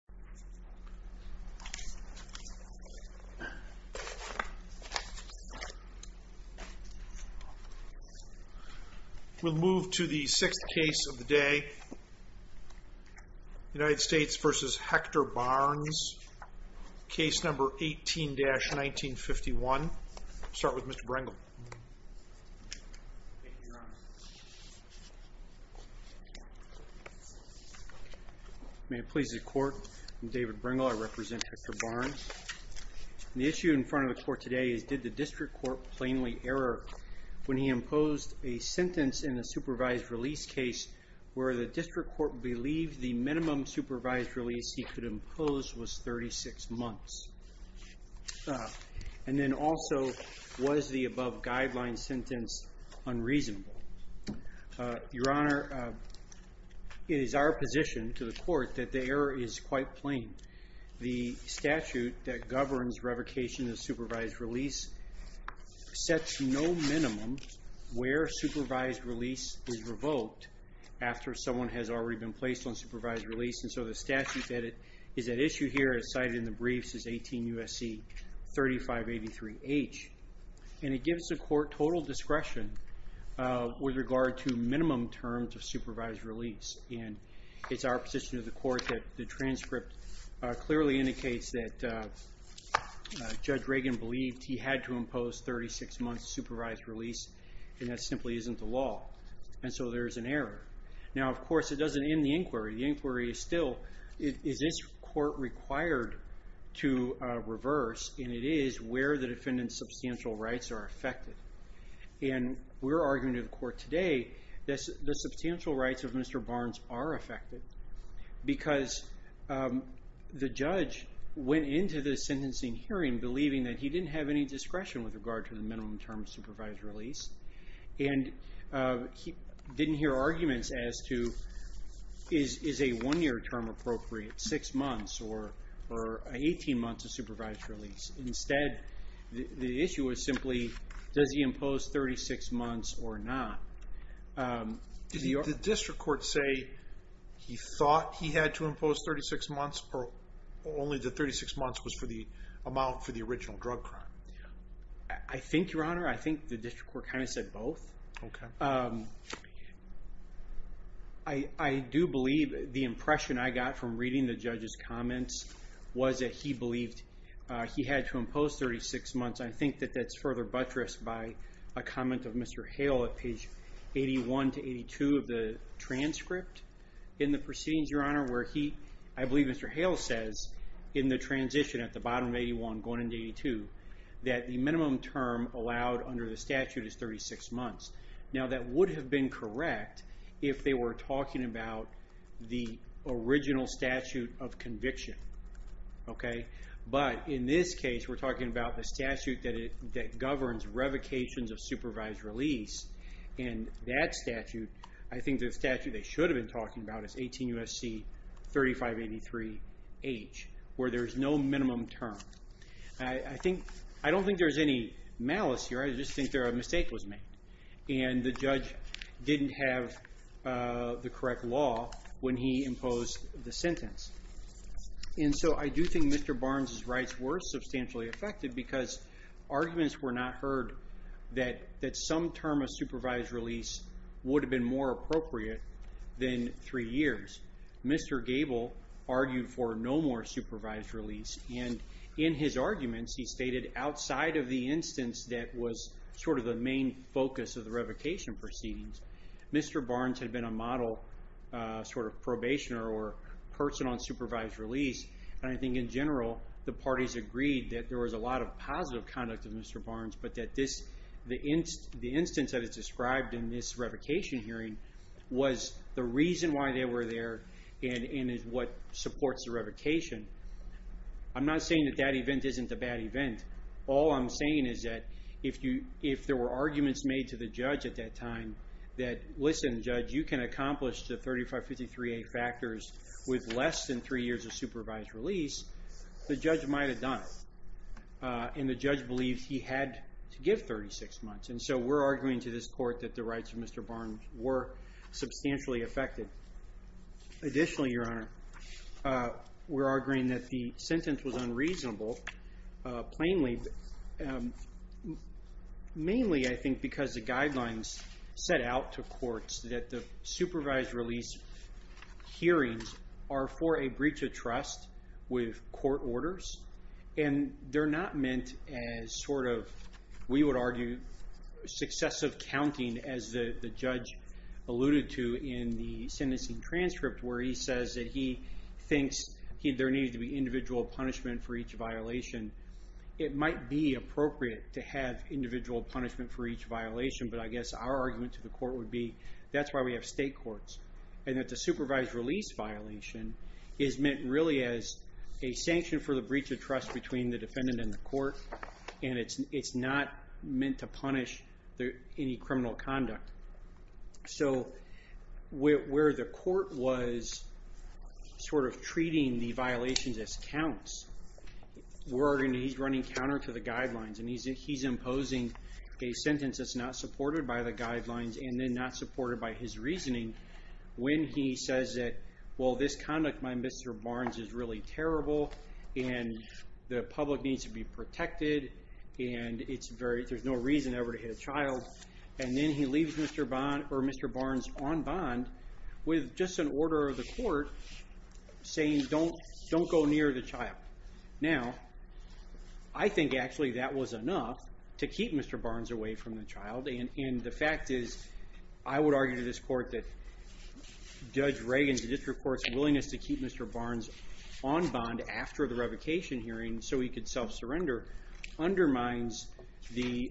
Case No. 18-1951. We'll start with Mr. Brengel. Thank you, Your Honor. May it please the Court, I'm David Brengel. I represent Hector Barnes. The issue in front of the Court today is did the District Court plainly error when he imposed a sentence in the supervised release case where the District Court believed the minimum supervised release he could impose was 36 months? And then also, was the above guideline sentence unreasonable? Your Honor, it is our position to the Court that the error is quite plain. The statute that governs revocation of supervised release sets no minimum where supervised release is revoked after someone has already been placed on supervised release. And so the statute that is at issue here as cited in the briefs is 18 U.S.C. 3583H. And it gives the Court total discretion with regard to minimum terms of supervised release. And it's our position to the Court that the transcript clearly indicates that Judge Reagan believed he had to impose 36 months' supervised release, and that simply isn't the law. And so there's an error. Now, of course, it doesn't end the inquiry. The inquiry is still, is this Court required to reverse? And it is where the defendant's substantial rights are affected. And we're arguing to the Court today that the substantial rights of Mr. Barnes are affected because the judge went into the sentencing hearing believing that he didn't have any discretion with regard to the minimum term of supervised release. And he didn't hear arguments as to, is a one-year term appropriate, six months, or 18 months of supervised release? Instead, the issue is simply, does he impose 36 months or not? Did the district court say he thought he had to impose 36 months, or only the 36 months was for the amount for the original drug crime? I think, Your Honor, I think the district court kind of said both. I do believe the impression I got from reading the judge's comments was that he believed he had to impose 36 months. I think that that's further buttressed by a comment of Mr. Hale at page 81 to 82 of the transcript. In the proceedings, Your Honor, where he, I believe Mr. Hale says, in the transition at the bottom of 81 going into 82, that the minimum term allowed under the statute is 36 months. Now, that would have been correct if they were talking about the original statute of conviction. But in this case, we're talking about the statute that governs revocations of supervised release. And that statute, I think the statute they should have been talking about is 18 U.S.C. 3583H, where there's no minimum term. I don't think there's any malice here. I just think a mistake was made. And the judge didn't have the correct law when he imposed the sentence. And so I do think Mr. Barnes' rights were substantially affected because arguments were not heard that some term of supervised release would have been more appropriate than three years. Mr. Gable argued for no more supervised release. And in his arguments, he stated outside of the instance that was sort of the main focus of the revocation proceedings, Mr. Barnes had been a model sort of probationer or person on supervised release. And I think in general, the parties agreed that there was a lot of positive conduct of Mr. Barnes, but that the instance that is described in this revocation hearing was the reason why they were there and is what supports the revocation. I'm not saying that that event isn't a bad event. All I'm saying is that if there were arguments made to the judge at that time that, listen, judge, you can accomplish the 3553A factors with less than three years of supervised release, the judge might have done it. And the judge believed he had to give 36 months. And so we're arguing to this court that the rights of Mr. Barnes were substantially affected. Additionally, Your Honor, we're arguing that the sentence was unreasonable, plainly, mainly I think because the guidelines set out to courts that the supervised release hearings are for a breach of trust with court orders. And they're not meant as sort of, we would argue, successive counting as the judge alluded to in the sentencing transcript where he says that he thinks there needed to be individual punishment for each violation. It might be appropriate to have individual punishment for each violation, but I guess our argument to the court would be that's why we have state courts and that the supervised release violation is meant really as a sanction for the breach of trust between the defendant and the court, and it's not meant to punish any criminal conduct. So where the court was sort of treating the violations as counts, we're arguing he's running counter to the guidelines, and he's imposing a sentence that's not supported by the guidelines and then not supported by his reasoning when he says that, well, this conduct by Mr. Barnes is really terrible and the public needs to be protected and there's no reason ever to hit a child. And then he leaves Mr. Barnes on bond with just an order of the court saying don't go near the child. Now, I think actually that was enough to keep Mr. Barnes away from the child, and the fact is I would argue to this court that Judge Reagan's district court's willingness to keep Mr. Barnes on bond after the revocation hearing so he could self-surrender undermines the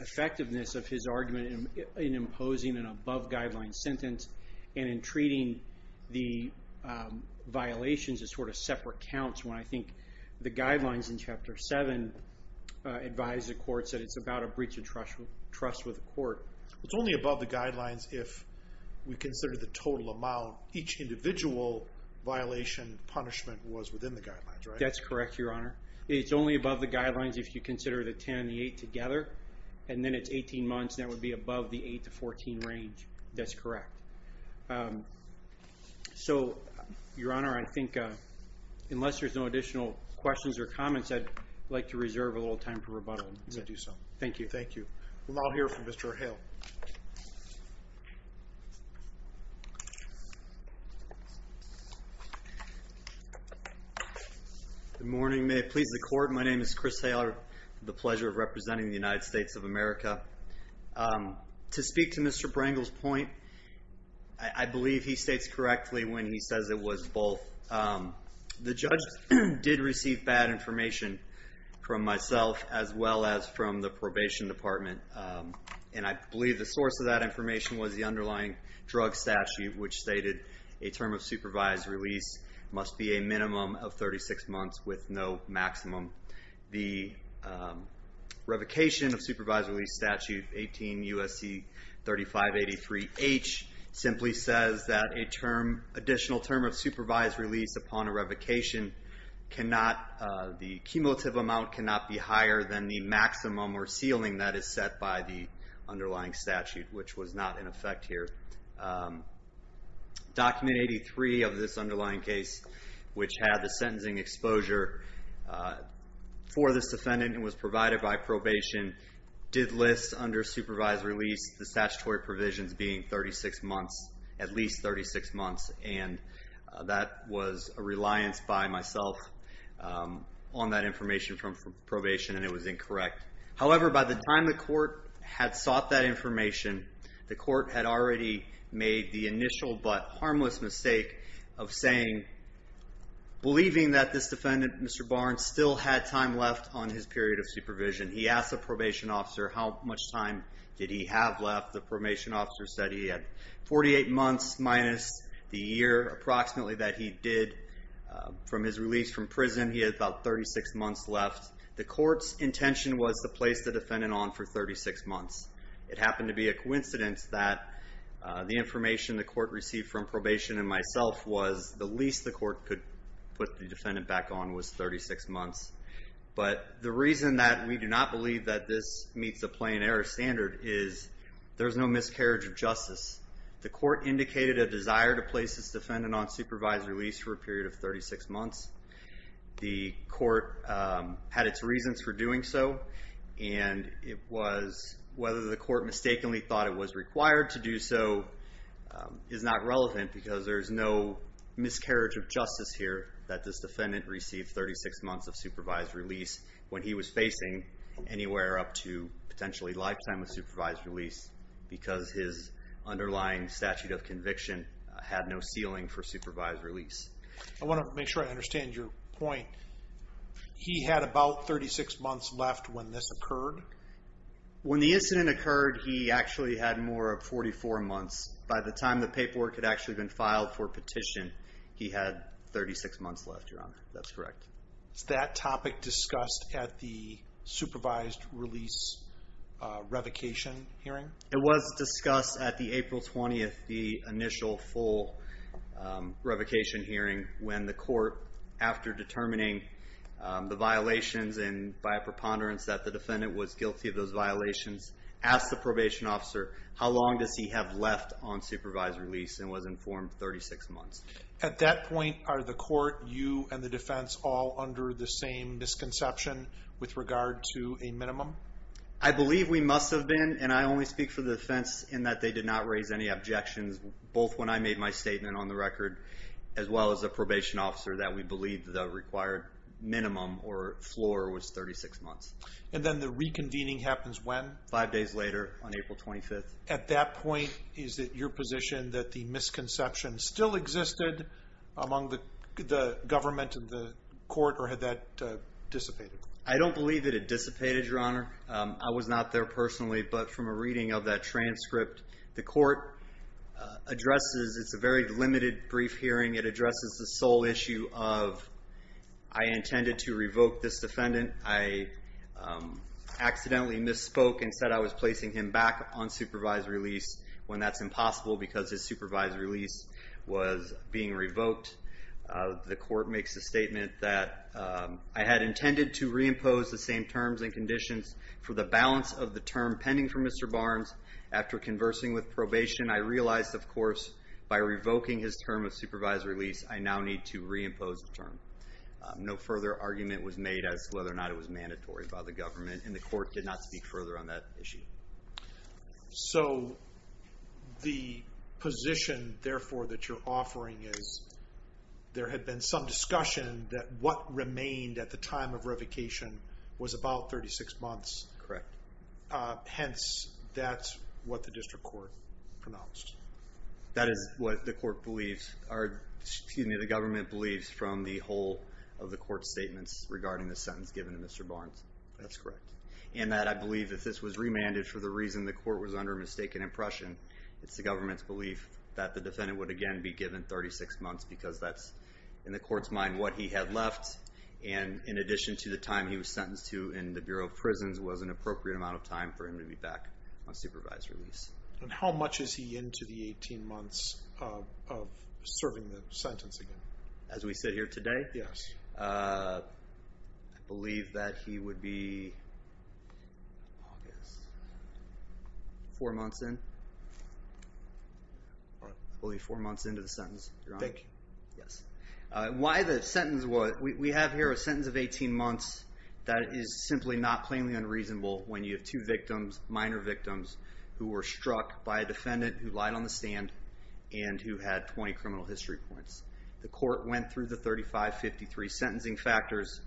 effectiveness of his argument in imposing an above-guideline sentence and in treating the violations as sort of separate counts when I think the guidelines in Chapter 7 advise the courts that it's about a breach of trust with the court. It's only above the guidelines if we consider the total amount each individual violation punishment was within the guidelines, right? That's correct, Your Honor. It's only above the guidelines if you consider the 10 and the 8 together and then it's 18 months and that would be above the 8 to 14 range. That's correct. So, Your Honor, I think unless there's no additional questions or comments, I'd like to reserve a little time for rebuttal. Thank you. Thank you. We'll now hear from Mr. O'Hale. Good morning. May it please the Court, my name is Chris Hailer. It's the pleasure of representing the United States of America. To speak to Mr. Brangle's point, I believe he states correctly when he says it was both. The judge did receive bad information from myself as well as from the probation department, and I believe the source of that information was the underlying drug statute, which stated a term of supervised release must be a minimum of 36 months with no maximum. The revocation of supervised release statute 18 U.S.C. 3583H simply says that a term, additional term of supervised release upon a revocation cannot, the cumulative amount cannot be higher than the maximum or ceiling that is set by the underlying statute, which was not in effect here. Document 83 of this underlying case, which had the sentencing exposure for this defendant and was provided by probation, did list under supervised release the statutory provisions being 36 months, at least 36 months, and that was a reliance by myself on that information from probation, and it was incorrect. However, by the time the court had sought that information, the court had already made the initial but harmless mistake of saying, believing that this defendant, Mr. Barnes, still had time left on his period of supervision. He asked the probation officer how much time did he have left. The probation officer said he had 48 months minus the year approximately that he did from his release from prison. He had about 36 months left. The court's intention was to place the defendant on for 36 months. It happened to be a coincidence that the information the court received from probation and myself was the least the court could put the defendant back on was 36 months. But the reason that we do not believe that this meets a plain error standard is there's no miscarriage of justice. The court indicated a desire to place this defendant on supervised release for a period of 36 months. The court had its reasons for doing so, and it was whether the court mistakenly thought it was required to do so is not relevant because there is no miscarriage of justice here that this defendant received 36 months of supervised release when he was facing anywhere up to potentially lifetime of supervised release because his underlying statute of conviction had no ceiling for supervised release. I want to make sure I understand your point. He had about 36 months left when this occurred? When the incident occurred, he actually had more of 44 months. By the time the paperwork had actually been filed for petition, he had 36 months left, Your Honor. That's correct. Is that topic discussed at the supervised release revocation hearing? It was discussed at the April 20th, the initial full revocation hearing, when the court, after determining the violations and by a preponderance that the defendant was guilty of those violations, asked the probation officer how long does he have left on supervised release and was informed 36 months. At that point, are the court, you, and the defense all under the same misconception with regard to a minimum? I believe we must have been, and I only speak for the defense in that they did not raise any objections, both when I made my statement on the record as well as the probation officer, that we believe the required minimum or floor was 36 months. And then the reconvening happens when? Five days later on April 25th. At that point, is it your position that the misconception still existed among the government and the court, or had that dissipated? I don't believe that it dissipated, Your Honor. I was not there personally, but from a reading of that transcript, the court addresses it's a very limited brief hearing. It addresses the sole issue of I intended to revoke this defendant. I accidentally misspoke and said I was placing him back on supervised release when that's impossible because his supervised release was being revoked. The court makes the statement that I had intended to reimpose the same terms and conditions for the balance of the term pending for Mr. Barnes. After conversing with probation, I realized, of course, by revoking his term of supervised release, I now need to reimpose the term. No further argument was made as to whether or not it was mandatory by the government, and the court did not speak further on that issue. So the position, therefore, that you're offering is there had been some discussion that what remained at the time of revocation was about 36 months. Correct. Hence, that's what the district court pronounced. That is what the government believes from the whole of the court's statements regarding the sentence given to Mr. Barnes. That's correct. And that I believe if this was remanded for the reason the court was under a mistaken impression, it's the government's belief that the defendant would again be given 36 months because that's, in the court's mind, what he had left, and in addition to the time he was sentenced to in the Bureau of Prisons was an appropriate amount of time for him to be back on supervised release. And how much is he into the 18 months of serving the sentence again? As we sit here today? Yes. I believe that he would be, I guess, four months in. I believe four months into the sentence, Your Honor. Thank you. Yes. Why the sentence was, we have here a sentence of 18 months that is simply not plainly unreasonable when you have two victims, minor victims, who were struck by a defendant who lied on the stand and who had 20 criminal history points. The court went through the 3553 sentencing factors.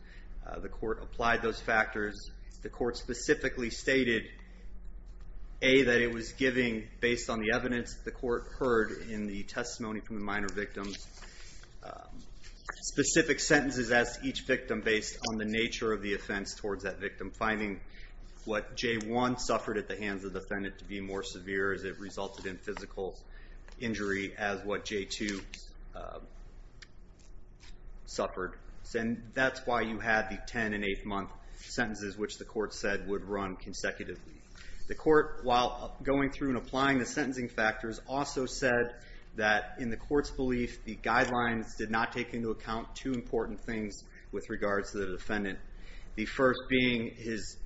The court applied those factors. The court specifically stated, A, that it was giving, based on the evidence the court heard in the testimony from the minor victims, specific sentences as to each victim based on the nature of the offense towards that victim, and finding what J1 suffered at the hands of the defendant to be more severe as it resulted in physical injury as what J2 suffered. And that's why you had the 10-and-eighth-month sentences, which the court said would run consecutively. The court, while going through and applying the sentencing factors, also said that in the court's belief the guidelines did not take into account two important things with regards to the defendant, the first being his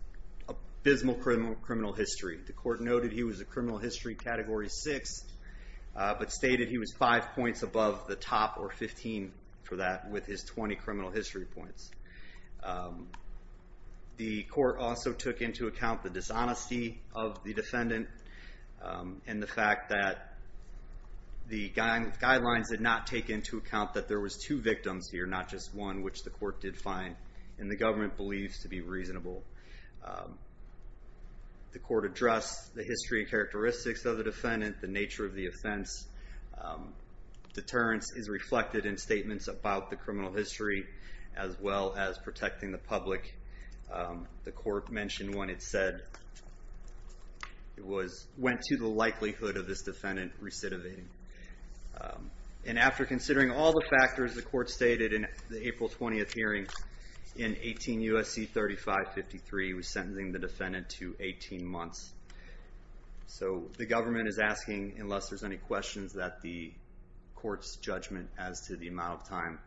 abysmal criminal history. The court noted he was a criminal history Category 6, but stated he was five points above the top, or 15 for that, with his 20 criminal history points. The court also took into account the dishonesty of the defendant and the fact that the guidelines did not take into account that there was two victims here, not just one, which the court did find, and the government believes to be reasonable. The court addressed the history and characteristics of the defendant, the nature of the offense. Deterrence is reflected in statements about the criminal history as well as protecting the public. The court mentioned when it said it went to the likelihood of this defendant recidivating. And after considering all the factors the court stated in the April 20th hearing, in 18 U.S.C. 3553, he was sentencing the defendant to 18 months. So the government is asking, unless there's any questions, that the court's judgment as to the amount of time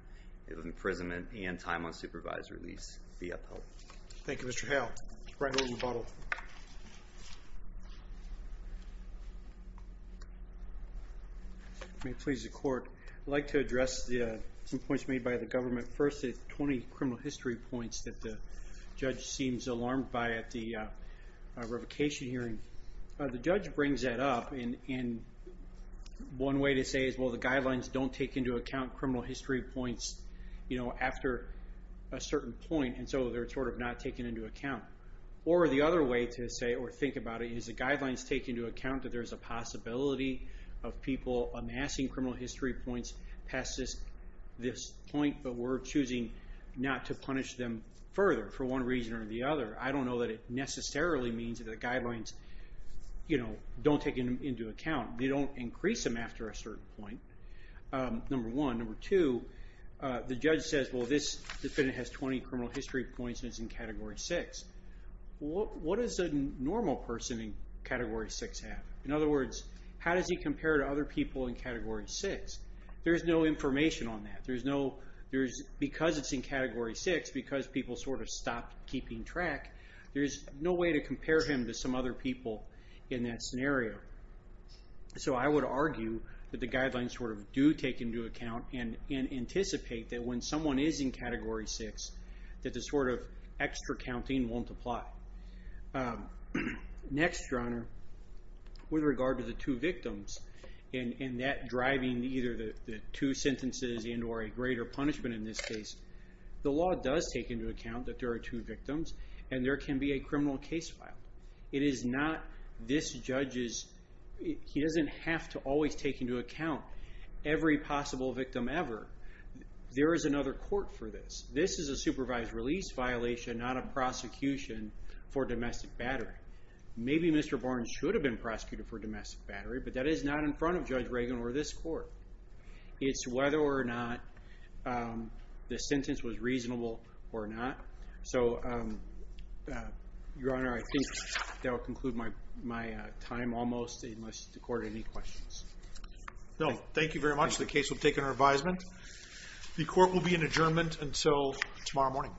of imprisonment and time on supervisory release be upheld. Thank you, Mr. Hale. All right. May it please the court. I'd like to address some points made by the government. First, the 20 criminal history points that the judge seems alarmed by at the revocation hearing. The judge brings that up, and one way to say it is, well, the guidelines don't take into account criminal history points after a certain point, and so they're sort of not taken into account. Or the other way to say or think about it is the guidelines take into account that there's a possibility of people amassing criminal history points past this point, but we're choosing not to punish them further for one reason or the other. I don't know that it necessarily means that the guidelines don't take them into account. They don't increase them after a certain point, number one. Number two, the judge says, well, this defendant has 20 criminal history points, and it's in Category 6. What does a normal person in Category 6 have? In other words, how does he compare to other people in Category 6? There's no information on that. Because it's in Category 6, because people sort of stopped keeping track, there's no way to compare him to some other people in that scenario. So I would argue that the guidelines sort of do take into account and anticipate that when someone is in Category 6 that the sort of extra counting won't apply. Next, Your Honor, with regard to the two victims and that driving either the two sentences and or a greater punishment in this case, the law does take into account that there are two victims and there can be a criminal case filed. It is not this judge's. He doesn't have to always take into account every possible victim ever. There is another court for this. This is a supervised release violation, not a prosecution for domestic battery. Maybe Mr. Barnes should have been prosecuted for domestic battery, but that is not in front of Judge Reagan or this court. It's whether or not the sentence was reasonable or not. So, Your Honor, I think that will conclude my time almost, unless the court has any questions. No, thank you very much. The case will take an advisement. The court will be in adjournment until tomorrow morning.